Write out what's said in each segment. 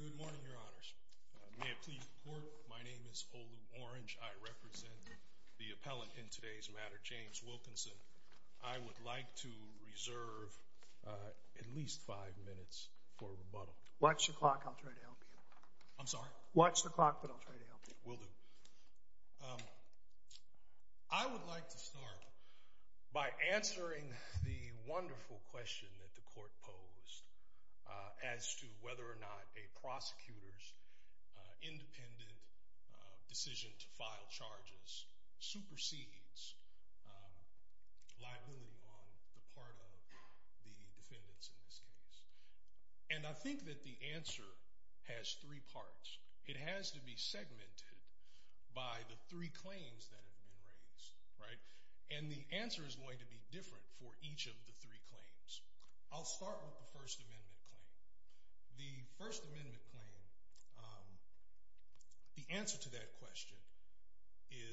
Good morning, Your Honors. May I please report, my name is Olu Orange. I represent the appellant in today's matter, James Wilkinson. I would like to reserve at least five minutes for rebuttal. Watch the clock, I'll try to help you. I'm sorry? Watch the clock, but I'll try to help you. Will do. I would like to start by answering the question of whether or not a prosecutor's independent decision to file charges supersedes liability on the part of the defendants in this case. And I think that the answer has three parts. It has to be segmented by the three claims that have been raised, right? And the answer is going to be different for each of the three claims. I'll start with the First Amendment claim. The First Amendment claim, the answer to that question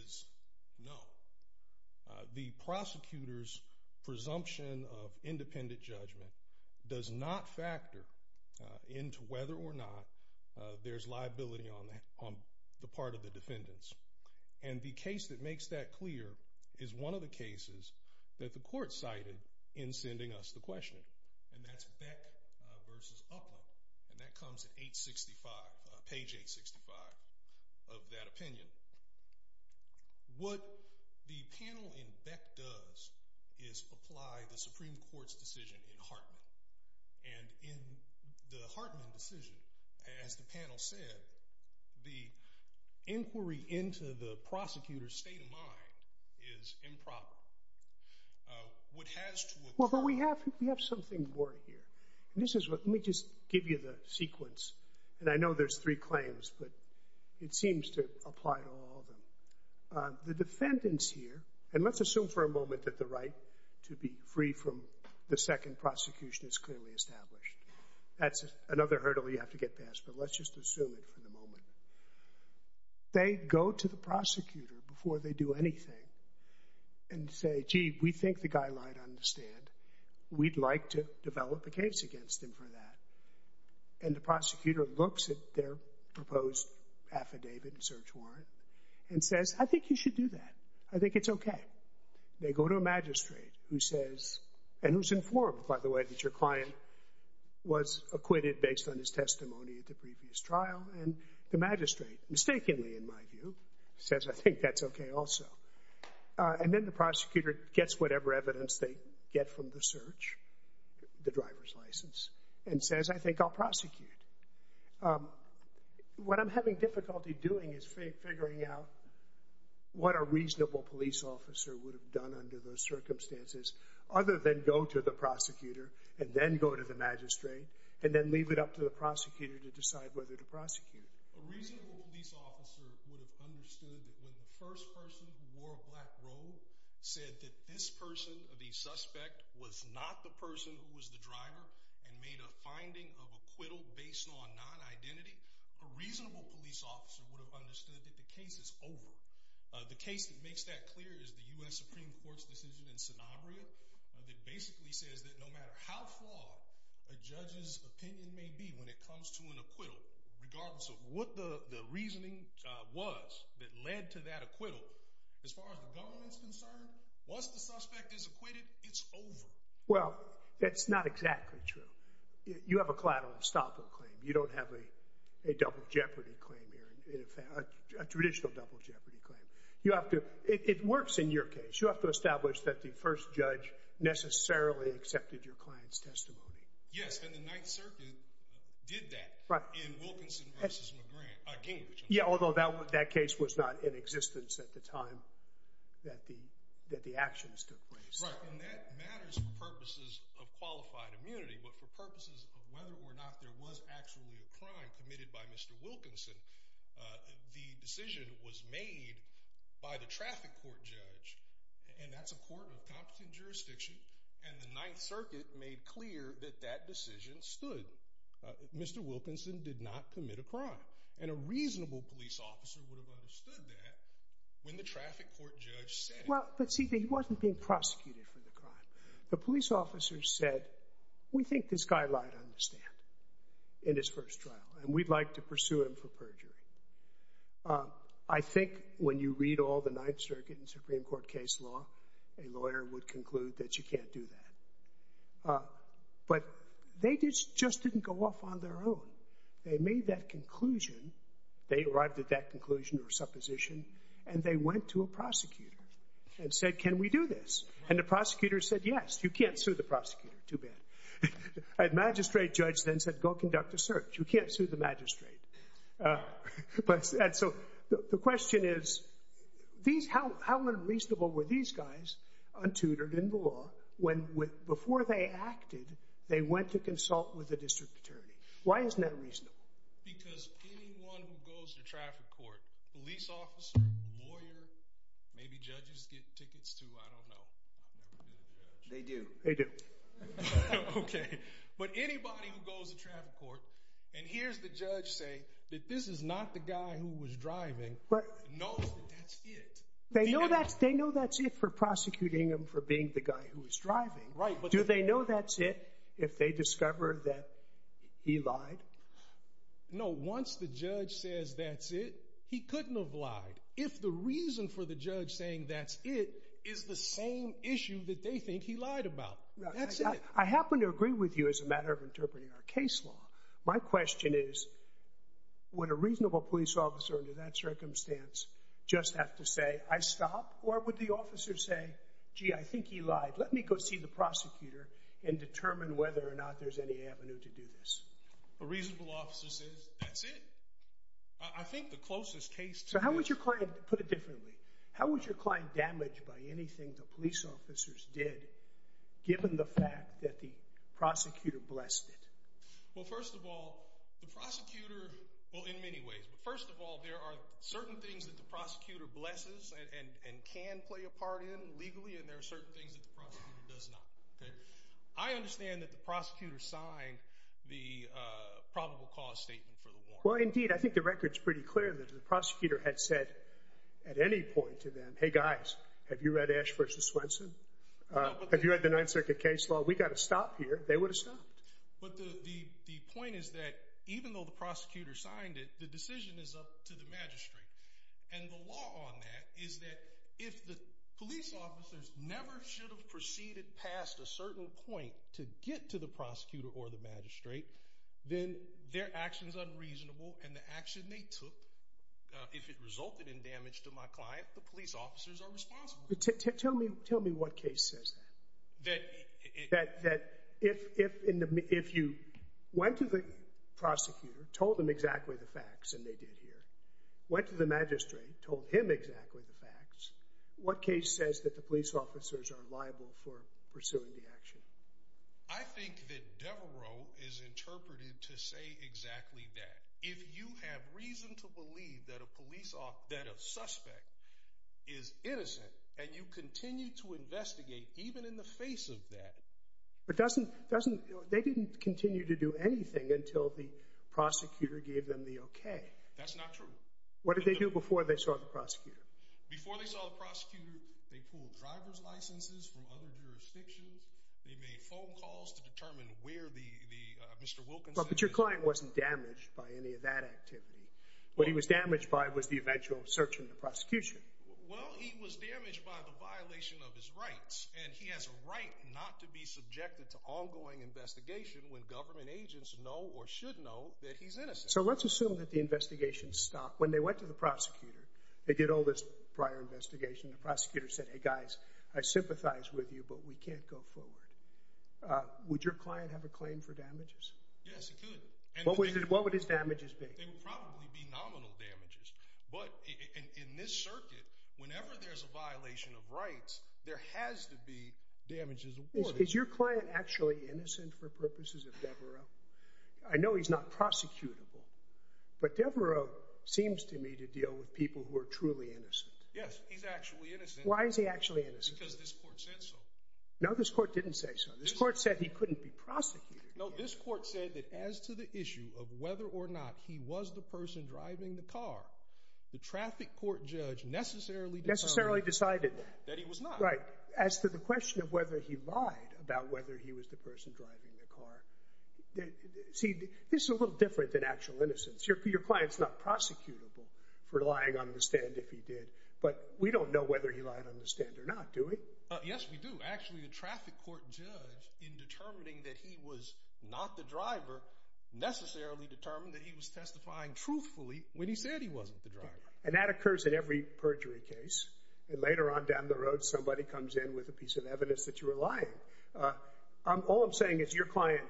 is no. The prosecutor's presumption of independent judgment does not factor into whether or not there's liability on the part of the defendants. And the case that makes that clear is one of the cases that the court cited in sending us the question. And that's Beck v. Upland, and that comes at page 865 of that opinion. What the panel in Beck does is apply the Supreme Court's decision in Hartman. And in the Hartman decision, as the panel said, the inquiry into the prosecutor's state of mind is improper. What has to occur- Well, but we have something more here. Let me just give you the sequence, and I know there's three claims, but it seems to apply to all of them. The defendants here- and let's assume for a moment that the right to be free from the second prosecution is clearly established. That's another hurdle you have to get past, but let's just assume it for the moment. They go to the prosecutor before they do anything and say, gee, we think the guy lied on the stand. We'd like to develop a case against him for that. And the prosecutor looks at their proposed affidavit and search warrant and says, I think you should do that. I think it's okay. They go to a magistrate who says- and who's informed, by the way, that your client was acquitted based on his testimony at the previous trial. And the magistrate, mistakenly in my view, says, I think that's okay also. And then the prosecutor gets whatever evidence they get from the search, the driver's license, and says, I think I'll prosecute. What I'm having difficulty doing is figuring out what a reasonable police officer would have done under those circumstances other than go to the prosecutor and then go to the magistrate and then leave it up to the prosecutor to decide whether to prosecute. A reasonable police officer would have understood that when the first person who wore a black robe said that this person, the suspect, was not the person who was the driver and made a finding of acquittal based on non-identity, a reasonable police officer would have understood that the case is over. The case that makes that clear is the U.S. Supreme Court's decision in Sanabria that basically says that no matter how flawed a judge's opinion may be when it comes to an acquittal, regardless of what the reasoning was that led to that acquittal, as far as the government's concerned, once the suspect is acquitted, it's over. Well, that's not exactly true. You have a collateral estoppel claim. You don't have a double jeopardy claim here, a traditional double jeopardy claim. It works in your case. You have to establish that the first judge necessarily accepted your client's testimony. Yes, and the Ninth Circuit did that in Wilkinson v. Gingrich. Yeah, although that case was not in existence at the time that the actions took place. Right, and that matters for purposes of qualified immunity, but for purposes of whether or not there was actually a crime committed by Mr. Wilkinson, the decision was made by the traffic court judge, and that's a court of competent jurisdiction, and the Ninth Circuit made clear that that decision stood. Mr. Wilkinson did not commit a crime, and a reasonable police officer would have understood that when the traffic court judge said it. Well, but see, he wasn't being prosecuted for the crime. The police officer said, we think this guy lied on the stand in his first trial, and we'd like to pursue him for perjury. I think when you read all the Ninth Circuit and Supreme Court case law, a lawyer would conclude that you can't do that. But they just didn't go off on their own. They made that conclusion. They arrived at that conclusion or supposition, and they went to a prosecutor and said, can we do this? And the prosecutor said, yes, you can't sue the prosecutor. Too bad. A magistrate judge then said, go conduct a search. You can't sue the magistrate. So the question is, how unreasonable were these guys, untutored in the law, when before they acted, they went to consult with the district attorney? Why isn't that reasonable? Because anyone who goes to traffic court, police officer, lawyer, maybe judges get tickets too, I don't know. I've never been a judge. They do. They do. Okay. But anybody who goes to traffic court and hears the judge say that this is not the guy who was driving knows that that's it. They know that's it for prosecuting him for being the guy who was driving. Do they know that's it if they discover that he lied? No. Once the judge says that's it, he couldn't have lied. If the reason for the judge saying that's it is the same issue that they think he lied about, that's it. I happen to agree with you as a matter of interpreting our case law. My question is, would a reasonable police officer under that circumstance just have to say, I stop? Or would the officer say, gee, I think he lied. Let me go see the prosecutor and determine whether or not there's any avenue to do this. A reasonable officer says, that's it. I think the closest case to it. So how would your client, put it differently, how would your client damage by anything the police officers did, given the fact that the prosecutor blessed it? Well, first of all, the prosecutor, well, in many ways. But first of all, there are certain things that the prosecutor blesses and can play a part in legally, and there are certain things that the prosecutor does not. I understand that the prosecutor signed the probable cause statement for the warrant. Well, indeed, I think the record's pretty clear that the prosecutor had said at any point to them, hey, guys, have you read Ash v. Swenson? Have you read the Ninth Circuit case law? We've got to stop here. They would have stopped. But the point is that even though the prosecutor signed it, the decision is up to the magistrate. And the law on that is that if the police officers never should have proceeded past a certain point to get to the prosecutor or the magistrate, then their action is unreasonable, and the action they took, if it resulted in damage to my client, the police officers are responsible. Tell me what case says that. That if you went to the prosecutor, told him exactly the facts, and they did here, went to the magistrate, told him exactly the facts, what case says that the police officers are liable for pursuing the action? I think that Devereaux is interpreted to say exactly that. If you have reason to believe that a suspect is innocent and you continue to investigate even in the face of that. But they didn't continue to do anything until the prosecutor gave them the okay. That's not true. What did they do before they saw the prosecutor? Before they saw the prosecutor, they pulled driver's licenses from other jurisdictions. They made phone calls to determine where Mr. Wilkinson is. But your client wasn't damaged by any of that activity. What he was damaged by was the eventual search in the prosecution. Well, he was damaged by the violation of his rights, and he has a right not to be subjected to ongoing investigation when government agents know or should know that he's innocent. So let's assume that the investigation stopped. When they went to the prosecutor, they did all this prior investigation. The prosecutor said, hey, guys, I sympathize with you, but we can't go forward. Would your client have a claim for damages? Yes, he could. What would his damages be? They would probably be nominal damages. But in this circuit, whenever there's a violation of rights, there has to be damages awarded. Is your client actually innocent for purposes of Devereaux? I know he's not prosecutable, but Devereaux seems to me to deal with people who are truly innocent. Yes, he's actually innocent. Why is he actually innocent? Because this court said so. No, this court didn't say so. This court said he couldn't be prosecuted. No, this court said that as to the issue of whether or not he was the person driving the car, the traffic court judge necessarily decided that he was not. Right. As to the question of whether he lied about whether he was the person driving the car, see, this is a little different than actual innocence. Your client's not prosecutable for lying on the stand if he did, but we don't know whether he lied on the stand or not, do we? Yes, we do. Actually, the traffic court judge, in determining that he was not the driver, necessarily determined that he was testifying truthfully when he said he wasn't the driver. And that occurs in every perjury case. And later on down the road, somebody comes in with a piece of evidence that you were lying. All I'm saying is your client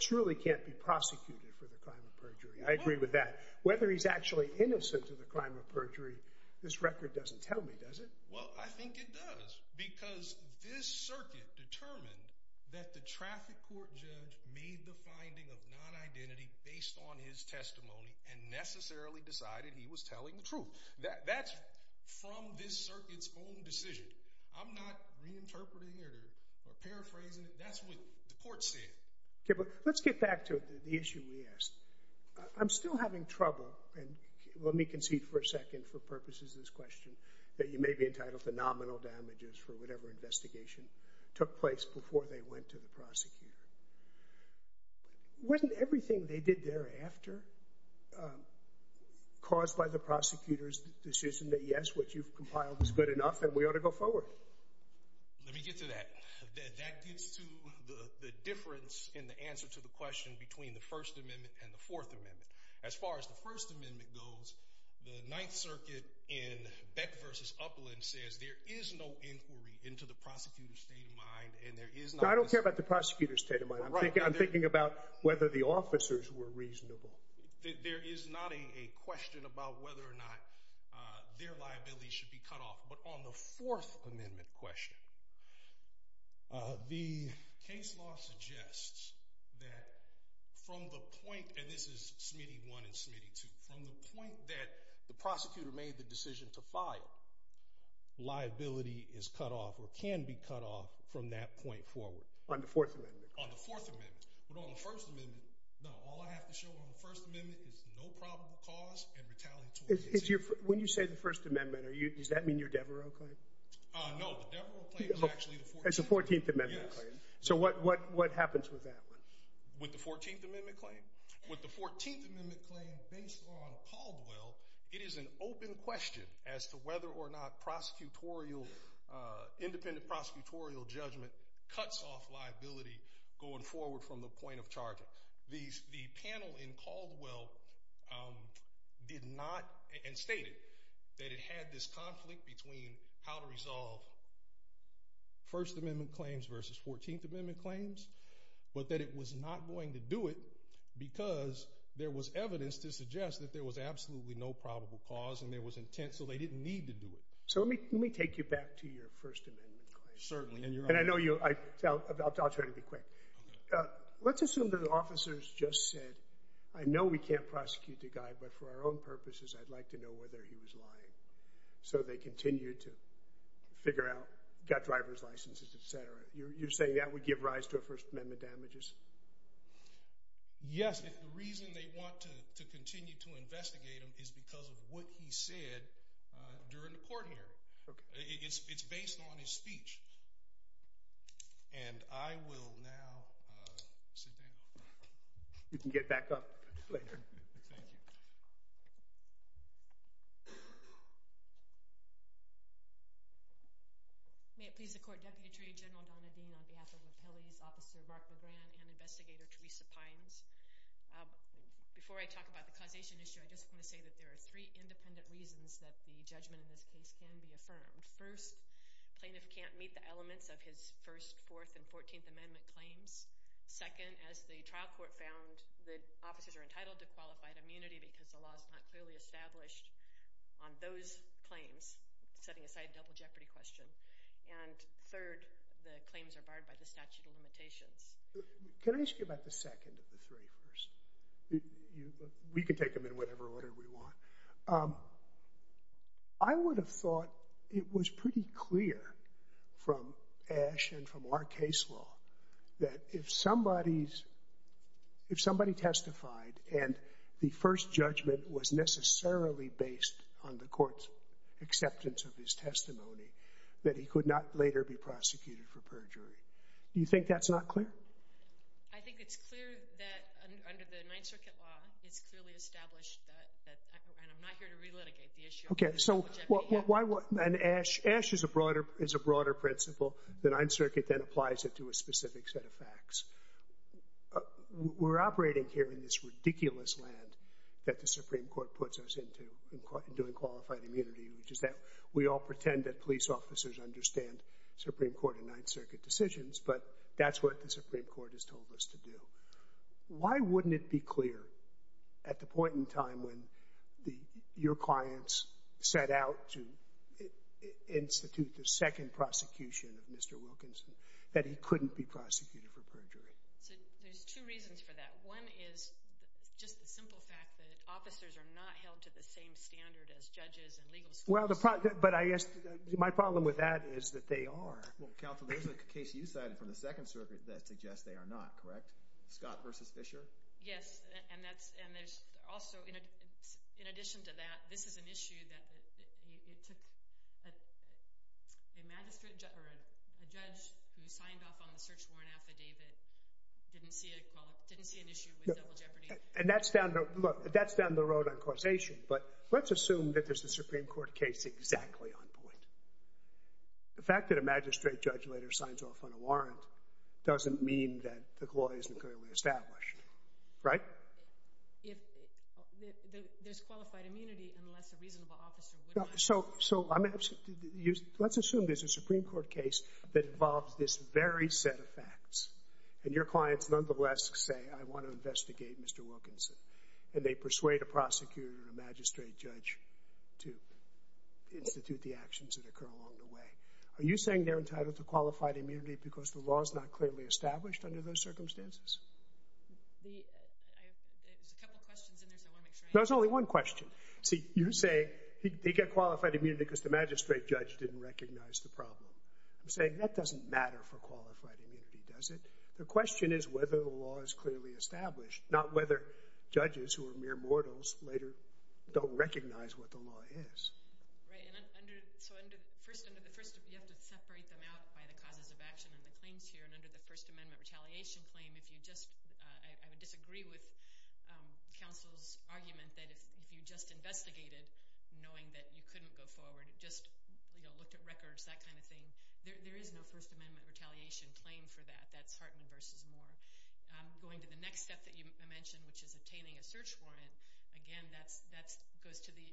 truly can't be prosecuted for the crime of perjury. I agree with that. Whether he's actually innocent of the crime of perjury, this record doesn't tell me, does it? Well, I think it does, because this circuit determined that the traffic court judge made the finding of non-identity based on his testimony and necessarily decided he was telling the truth. That's from this circuit's own decision. I'm not reinterpreting it or paraphrasing it. That's what the court said. Okay, but let's get back to the issue we asked. I'm still having trouble, and let me concede for a second for purposes of this question, that you may be entitled to nominal damages for whatever investigation took place before they went to the prosecutor. Wasn't everything they did thereafter caused by the prosecutor's decision that, yes, what you've compiled is good enough and we ought to go forward? Let me get to that. That gets to the difference in the answer to the question between the First Amendment and the Fourth Amendment. As far as the First Amendment goes, the Ninth Circuit in Beck v. Upland says there is no inquiry into the prosecutor's state of mind and there is not a... I don't care about the prosecutor's state of mind. I'm thinking about whether the officers were reasonable. There is not a question about whether or not their liability should be cut off. But on the Fourth Amendment question, the case law suggests that from the point, and this is Smitty I and Smitty II, from the point that the prosecutor made the decision to file, liability is cut off or can be cut off from that point forward. On the Fourth Amendment? On the Fourth Amendment. But on the First Amendment, no. All I have to show on the First Amendment is no probable cause and retaliatory decision. When you say the First Amendment, does that mean you're Devereux type? No, the Devereux claim is actually the 14th Amendment. It's the 14th Amendment claim. So what happens with that one? With the 14th Amendment claim? With the 14th Amendment claim, based on Caldwell, it is an open question as to whether or not prosecutorial, independent prosecutorial judgment cuts off liability going forward from the point of charge. The panel in Caldwell did not, and stated that it had this conflict between how to resolve First Amendment claims versus 14th Amendment claims, but that it was not going to do it because there was evidence to suggest that there was absolutely no probable cause and there was intent so they didn't need to do it. So let me take you back to your First Amendment claim. Certainly. And I know you, I'll try to be quick. Let's assume that the officers just said, I know we can't prosecute the guy, but for our own purposes, I'd like to know whether he was lying. So they continued to figure out, got driver's licenses, et cetera. You're saying that would give rise to First Amendment damages? Yes, if the reason they want to continue to investigate him is because of what he said during the court hearing. It's based on his speech. And I will now sit down. You can get back up later. Thank you. May it please the Court, Deputy Attorney General Donna Dean, on behalf of Appellees Officer Mark LeGrand and Investigator Teresa Pines. Before I talk about the causation issue, I just want to say that there are three independent reasons that the judgment in this case can be affirmed. First, plaintiff can't meet the elements of his First, Fourth, and 14th Amendment claims. Second, as the trial court found, the officers are entitled to qualified immunity because the law is not clearly established on those claims, setting aside a double jeopardy question. And third, the claims are barred by the statute of limitations. Can I ask you about the second of the three first? We can take them in whatever order we want. I would have thought it was pretty clear from Ash and from our case law that if somebody testified and the first judgment was necessarily based on the court's acceptance of his testimony, that he could not later be prosecuted for perjury. Do you think that's not clear? I think it's clear that under the Ninth Circuit law, it's clearly established that... And I'm not here to relitigate the issue. Okay, so why... And Ash is a broader principle. The Ninth Circuit then applies it to a specific set of facts. We're operating here in this ridiculous land that the Supreme Court puts us into in doing qualified immunity, which is that we all pretend that police officers understand Supreme Court and Ninth Circuit decisions, but that's what the Supreme Court has told us to do. Why wouldn't it be clear at the point in time when your clients set out to institute the second prosecution of Mr Wilkinson that he couldn't be prosecuted for perjury? So there's two reasons for that. One is just the simple fact that officers are not held to the same standard as judges and legal schools. Well, but I guess my problem with that is that they are. Counsel, there's a case you cited from the Second Circuit that suggests they are not, correct? Scott v. Fisher? Yes, and there's also, in addition to that, this is an issue that it took a magistrate... A judge who signed off on the search warrant affidavit didn't see an issue with double jeopardy. And that's down the road on causation, but let's assume that there's a Supreme Court case exactly on point. The fact that a magistrate judge later signs off on a warrant doesn't mean that the law isn't clearly established, right? There's qualified immunity unless a reasonable officer would... So let's assume there's a Supreme Court case that involves this very set of facts, and your clients nonetheless say, I want to investigate Mr. Wilkinson, and they persuade a prosecutor or a magistrate judge to institute the actions that occur along the way. Are you saying they're entitled to qualified immunity because the law is not clearly established under those circumstances? There's a couple questions in there, so I want to make sure... No, there's only one question. See, you say they get qualified immunity because the magistrate judge didn't recognize the problem. I'm saying that doesn't matter for qualified immunity, does it? The question is whether the law is clearly established, not whether judges who are mere mortals later don't recognize what the law is. Right, and so under the first... You have to separate them out by the causes of action and the claims here, and under the First Amendment retaliation claim, if you just... I would disagree with counsel's argument that if you just investigated, knowing that you couldn't go forward, just, you know, looked at records, that kind of thing, there is no First Amendment retaliation claim for that. That's Hartman v. Moore. Going to the next step that you mentioned, which is obtaining a search warrant, again, that goes to the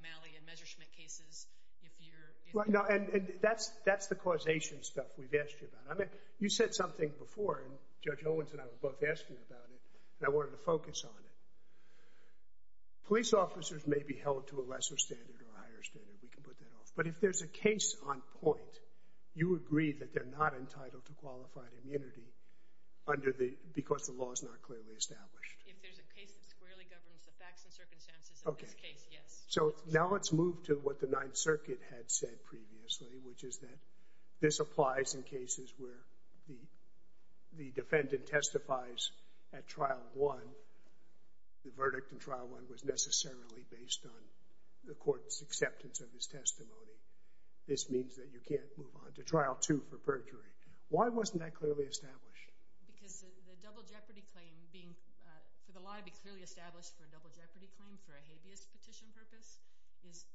Malley and Messerschmidt cases. If you're... No, and that's the causation stuff we've asked you about. I mean, you said something before, and Judge Owens and I were both asking about it, and I wanted to focus on it. Police officers may be held to a lesser standard or a higher standard. We can put that off. But if there's a case on point, you agree that they're not entitled to qualified immunity because the law is not clearly established. If there's a case that squarely governs the facts and circumstances of this case, yes. So now let's move to what the Ninth Circuit had said previously, which is that this applies in cases where the defendant testifies at Trial 1. The verdict in Trial 1 was necessarily based on the court's acceptance of his testimony. This means that you can't move on to Trial 2 for perjury. Why wasn't that clearly established? Because the double jeopardy claim being... For the law to be clearly established for a double jeopardy claim for a habeas petition purpose,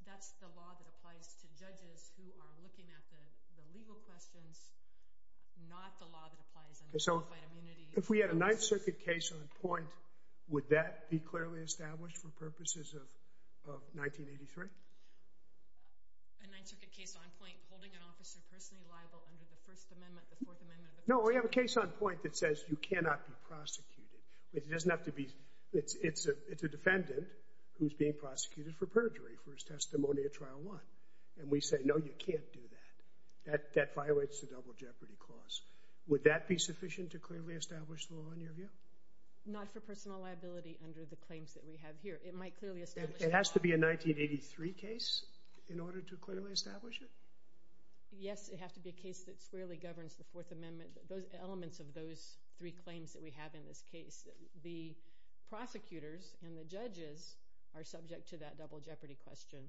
that's the law that applies to judges who are looking at the legal questions not the law that applies under qualified immunity. If we had a Ninth Circuit case on point, would that be clearly established for purposes of 1983? A Ninth Circuit case on point, holding an officer personally liable under the First Amendment, the Fourth Amendment... No, we have a case on point that says you cannot be prosecuted. It doesn't have to be... It's a defendant who's being prosecuted for perjury for his testimony at Trial 1. And we say, no, you can't do that. That violates the double jeopardy clause. Would that be sufficient to clearly establish the law, in your view? Not for personal liability under the claims that we have here. It might clearly establish... It has to be a 1983 case in order to clearly establish it? Yes, it has to be a case that squarely governs the Fourth Amendment. Those elements of those three claims that we have in this case... The prosecutors and the judges are subject to that double jeopardy question,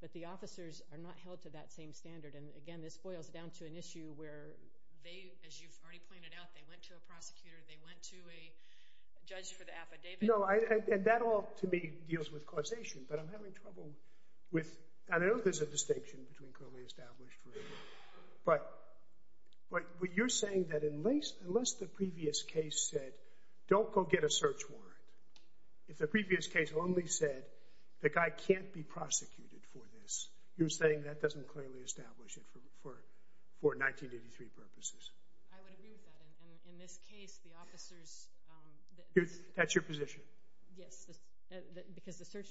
but the officers are not held to that same standard, and, again, this boils down to an issue where they, as you've already pointed out, they went to a prosecutor, they went to a judge for the affidavit... No, and that all, to me, deals with causation, but I'm having trouble with... I know there's a distinction between clearly established... But you're saying that unless the previous case said, don't go get a search warrant, if the previous case only said, the guy can't be prosecuted for this, you're saying that doesn't clearly establish it for 1983 purposes. I would agree with that, and in this case, the officers... That's your position? Yes, because the search...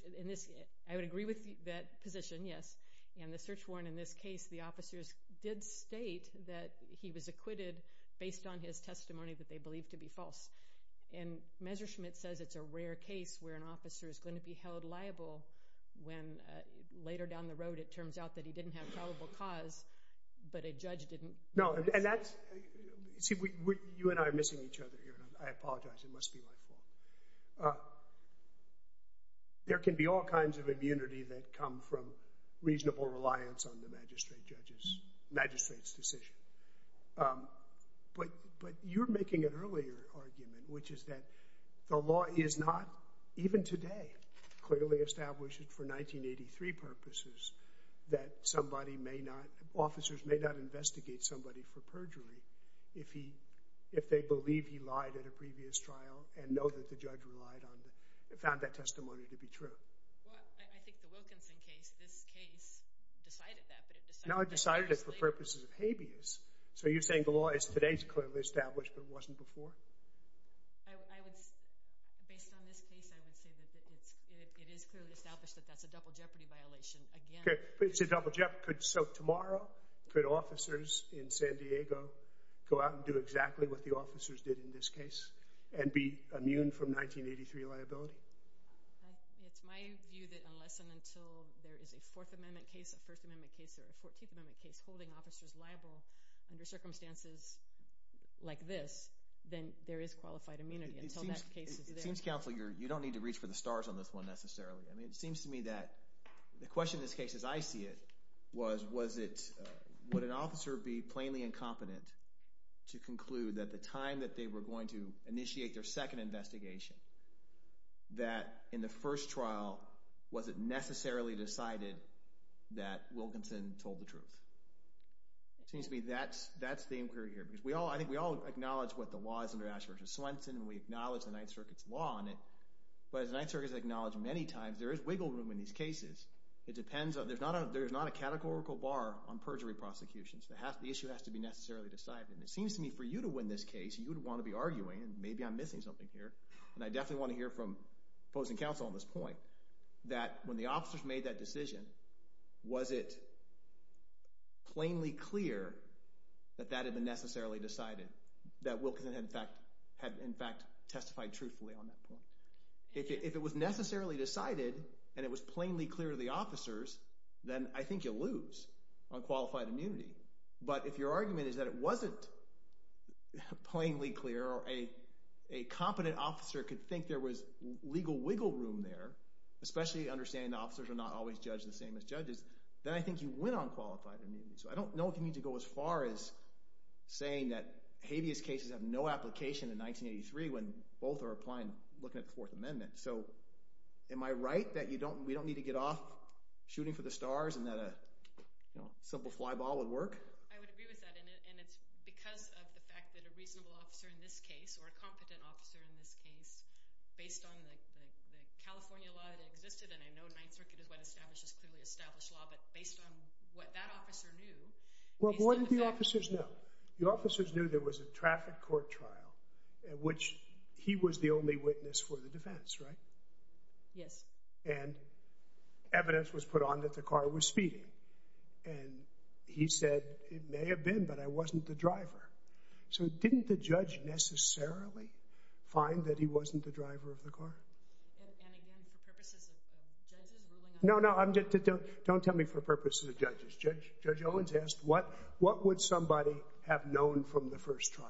I would agree with that position, yes, and the search warrant in this case, the officers did state that he was acquitted based on his testimony that they believed to be false, and Messerschmidt says it's a rare case where an officer is going to be held liable when later down the road it turns out that he didn't have probable cause, but a judge didn't... No, and that's... See, you and I are missing each other here, and I apologize, it must be my fault. There can be all kinds of immunity that come from reasonable reliance on the magistrate's decision, but you're making an earlier argument, which is that the law is not, even today, clearly established for 1983 purposes that somebody may not... Officers may not investigate somebody for perjury if they believe he lied at a previous trial and know that the judge relied on... found that testimony to be true. Well, I think the Wilkinson case, this case, decided that, but it decided... No, it decided it for purposes of habeas, so you're saying the law is today clearly established, but it wasn't before? I would... It is clearly established that that's a double jeopardy violation, again... Okay, but it's a double jeopardy... So tomorrow, could officers in San Diego go out and do exactly what the officers did in this case and be immune from 1983 liability? It's my view that unless and until there is a Fourth Amendment case, a First Amendment case, or a Fourteenth Amendment case holding officers liable under circumstances like this, then there is qualified immunity. Until that case is there... It seems, counsel, you don't need to reach for the stars on this one, necessarily. I mean, it seems to me that the question in this case, as I see it, was, was it... Would an officer be plainly incompetent to conclude that the time that they were going to initiate their second investigation, that in the first trial, was it necessarily decided that Wilkinson told the truth? It seems to me that's the inquiry here, because I think we all acknowledge what the law is under Ash v. Swenson, and we acknowledge the Ninth Circuit's law on it, but as the Ninth Circuit has acknowledged many times, there is wiggle room in these cases. It depends on... There's not a categorical bar on perjury prosecutions. The issue has to be necessarily decided, and it seems to me for you to win this case, you would want to be arguing, and maybe I'm missing something here, and I definitely want to hear from opposing counsel on this point, that when the officers made that decision, was it plainly clear that that had been necessarily decided? That Wilkinson had in fact testified truthfully on that point. If it was necessarily decided, and it was plainly clear to the officers, then I think you'll lose on qualified immunity. But if your argument is that it wasn't plainly clear, or a competent officer could think there was legal wiggle room there, especially understanding the officers are not always judged the same as judges, then I think you win on qualified immunity. So I don't know if you need to go as far as saying that habeas cases have no application in 1983 when both are applying, looking at the Fourth Amendment. So am I right that we don't need to get off shooting for the stars and that a simple fly ball would work? I would agree with that, and it's because of the fact that a reasonable officer in this case, or a competent officer in this case, based on the California law that existed, and I know Ninth Circuit is what establishes clearly established law, but based on what that officer knew... Well, what did the officers know? The officers knew there was a traffic court trial in which he was the only witness for the defense, right? Yes. And evidence was put on that the car was speeding. And he said, it may have been, but I wasn't the driver. So didn't the judge necessarily find that he wasn't the driver of the car? And again, for purposes of judges ruling on... No, no, don't tell me for purposes of judges. Judge Owens asked, what would somebody have known from the first trial?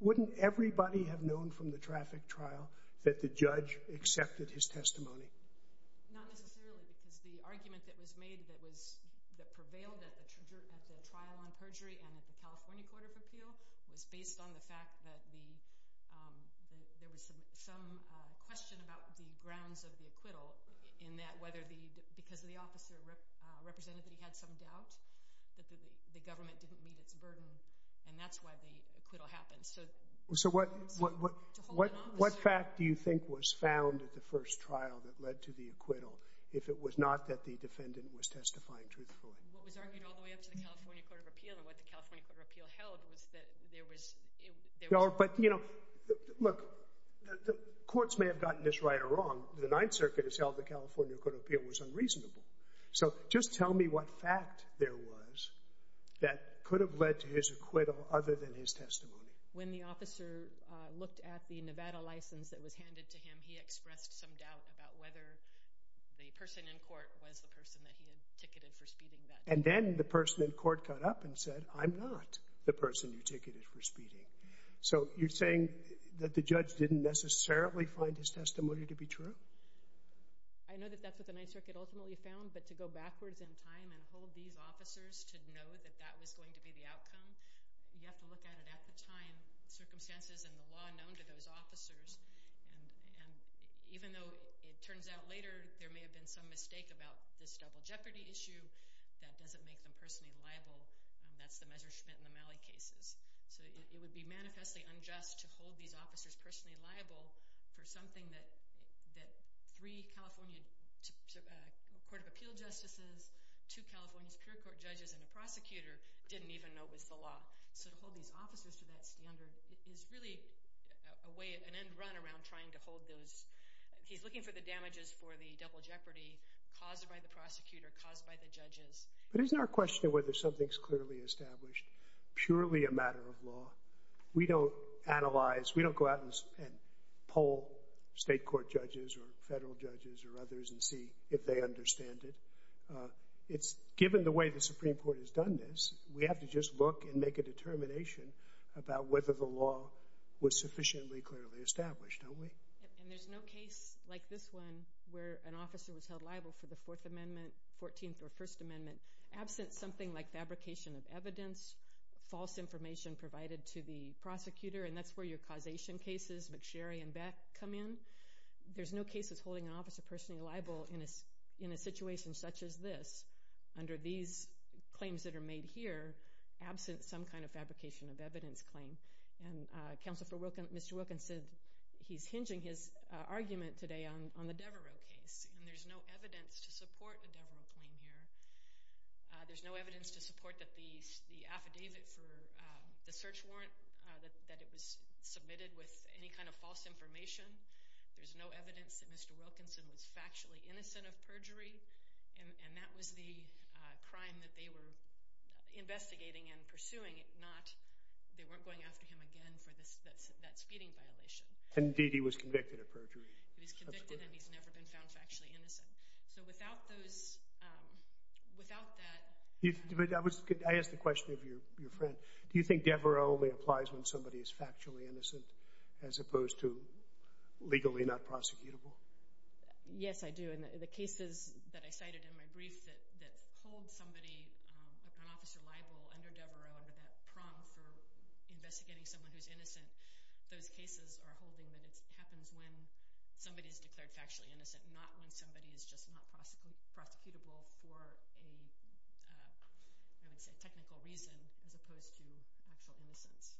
Wouldn't everybody have known from the traffic trial that the judge accepted his testimony? Not necessarily, because the argument that was made that prevailed at the trial on perjury and at the California Court of Appeal was based on the fact that there was some question about the grounds of the acquittal in that because the officer represented that he had some doubt that the government didn't meet its burden, and that's why the acquittal happened. So what fact do you think was found at the first trial that led to the acquittal if it was not that the defendant was testifying truthfully? What was argued all the way up to the California Court of Appeal and what the California Court of Appeal held was that there was... No, but, you know, look, the courts may have gotten this right or wrong. The Ninth Circuit has held the California Court of Appeal was unreasonable. So just tell me what fact there was that could have led to his acquittal other than his testimony. When the officer looked at the Nevada license that was handed to him, he expressed some doubt about whether the person in court was the person that he had ticketed for speeding that day. And then the person in court caught up and said, I'm not the person you ticketed for speeding. So you're saying that the judge didn't necessarily find his testimony to be true? I know that that's what the Ninth Circuit ultimately found, but to go backwards in time and hold these officers to know that that was going to be the outcome, you have to look at it at the time, circumstances, and the law known to those officers. And even though it turns out later there may have been some mistake about this double jeopardy issue that doesn't make them personally liable, that's the measure Schmidt and the Malley cases. So it would be manifestly unjust to hold these officers personally liable for something that three California Court of Appeal justices, two California Superior Court judges, and a prosecutor didn't even know was the law. So to hold these officers to that standard is really an end run around trying to hold those... He's looking for the damages for the double jeopardy caused by the prosecutor, caused by the judges. But isn't our question whether something's clearly established purely a matter of law? We don't analyze. We don't go out and poll state court judges or federal judges or others and see if they understand it. Given the way the Supreme Court has done this, we have to just look and make a determination about whether the law was sufficiently clearly established, don't we? And there's no case like this one where an officer was held liable for the Fourth Amendment, Fourteenth, or First Amendment, absent something like fabrication of evidence, false information provided to the prosecutor, and that's where your causation cases, McSherry and Beck, come in. There's no cases holding an officer personally liable in a situation such as this, under these claims that are made here, absent some kind of fabrication of evidence claim. And Counselor for Wilkins, Mr. Wilkins, said he's hinging his argument today on the Devereux case, and there's no evidence to support a Devereux claim here. There's no evidence to support that the affidavit for the search warrant, that it was submitted with any kind of false information. There's no evidence that Mr. Wilkinson was factually innocent of perjury, and that was the crime that they were investigating and pursuing, not they weren't going after him again for that speeding violation. Indeed, he was convicted of perjury. He was convicted, and he's never been found factually innocent. So without those... Without that... I asked the question of your friend. Do you think Devereux only applies when somebody is factually innocent as opposed to legally not prosecutable? Yes, I do. And the cases that I cited in my brief that hold somebody, an officer liable, under Devereux under that prong for investigating someone who's innocent, those cases are holding that it happens when somebody is declared factually innocent, not when somebody is just not prosecutable for a, I would say, technical reason as opposed to actual innocence.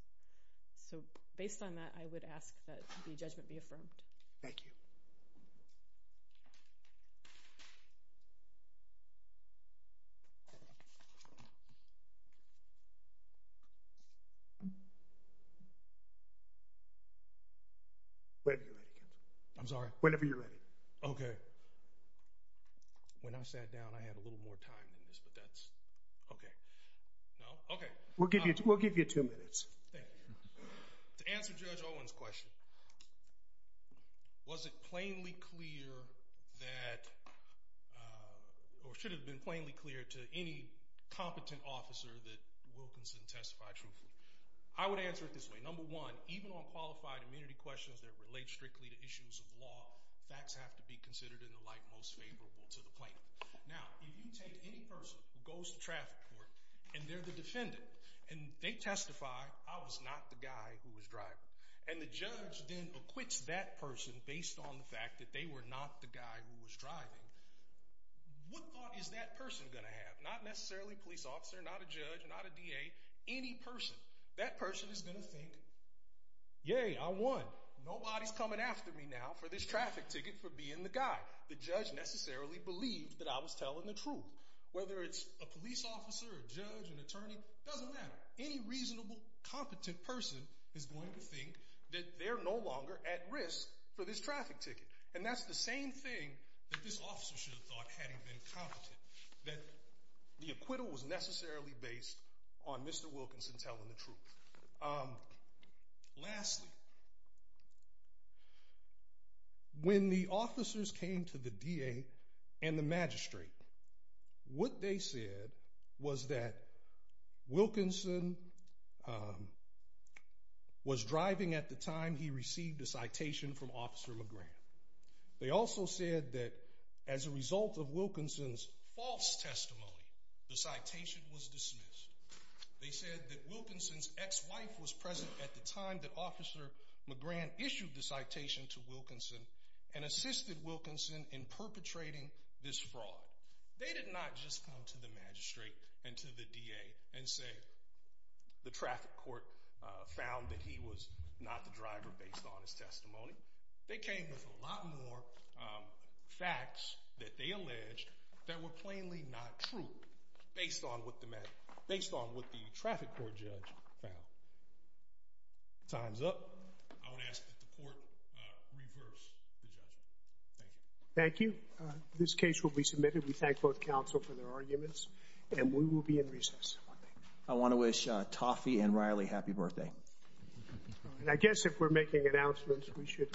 So based on that, I would ask that the judgment be affirmed. Thank you. Whenever you're ready. I'm sorry? Whenever you're ready. Okay. When I sat down, I had a little more time than this, but that's... Okay. No? Okay. We'll give you two minutes. Thank you. To answer Judge Owen's question, was it plainly clear that... or should it have been plainly clear to any competent officer that Wilkinson testified truthfully? I would answer it this way. Number one, even on qualified immunity questions that relate strictly to issues of law, facts have to be considered in the light most favorable to the plaintiff. Now, if you take any person who goes to traffic court and they're the defendant, and they testify, I was not the guy who was driving, and the judge then acquits that person based on the fact that they were not the guy who was driving, what thought is that person going to have? Not necessarily a police officer, not a judge, not a DA, any person. That person is going to think, Yay, I won. Nobody's coming after me now for this traffic ticket for being the guy. The judge necessarily believed that I was telling the truth. Whether it's a police officer, a judge, an attorney, doesn't matter. Any reasonable, competent person is going to think that they're no longer at risk for this traffic ticket. And that's the same thing that this officer should have thought had he been competent, that the acquittal was necessarily based on Mr. Wilkinson telling the truth. Lastly, when the officers came to the DA and the magistrate, what they said was that Wilkinson was driving at the time he received a citation from Officer McGrath. They also said that as a result of Wilkinson's false testimony, the citation was dismissed. They said that Wilkinson's ex-wife was present at the time that Officer McGrath issued the citation to Wilkinson and assisted Wilkinson in perpetrating this fraud. They did not just come to the magistrate and to the DA and say the traffic court found that he was not the driver based on his testimony. They came with a lot more facts that they alleged that were plainly not true based on what the traffic court judge found. Time's up. I would ask that the court reverse the judgment. Thank you. Thank you. This case will be submitted. We thank both counsel for their arguments and we will be in recess. I want to wish Toffee and Riley happy birthday. I guess if we're making announcements, we should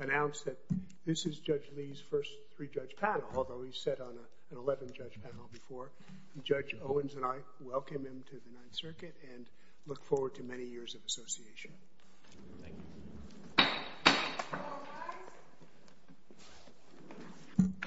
announce that this is Judge Lee's first three-judge panel, although he's sat on an 11-judge panel before. Judge Owens and I welcome him to the Ninth Circuit and look forward to many years of association. Thank you.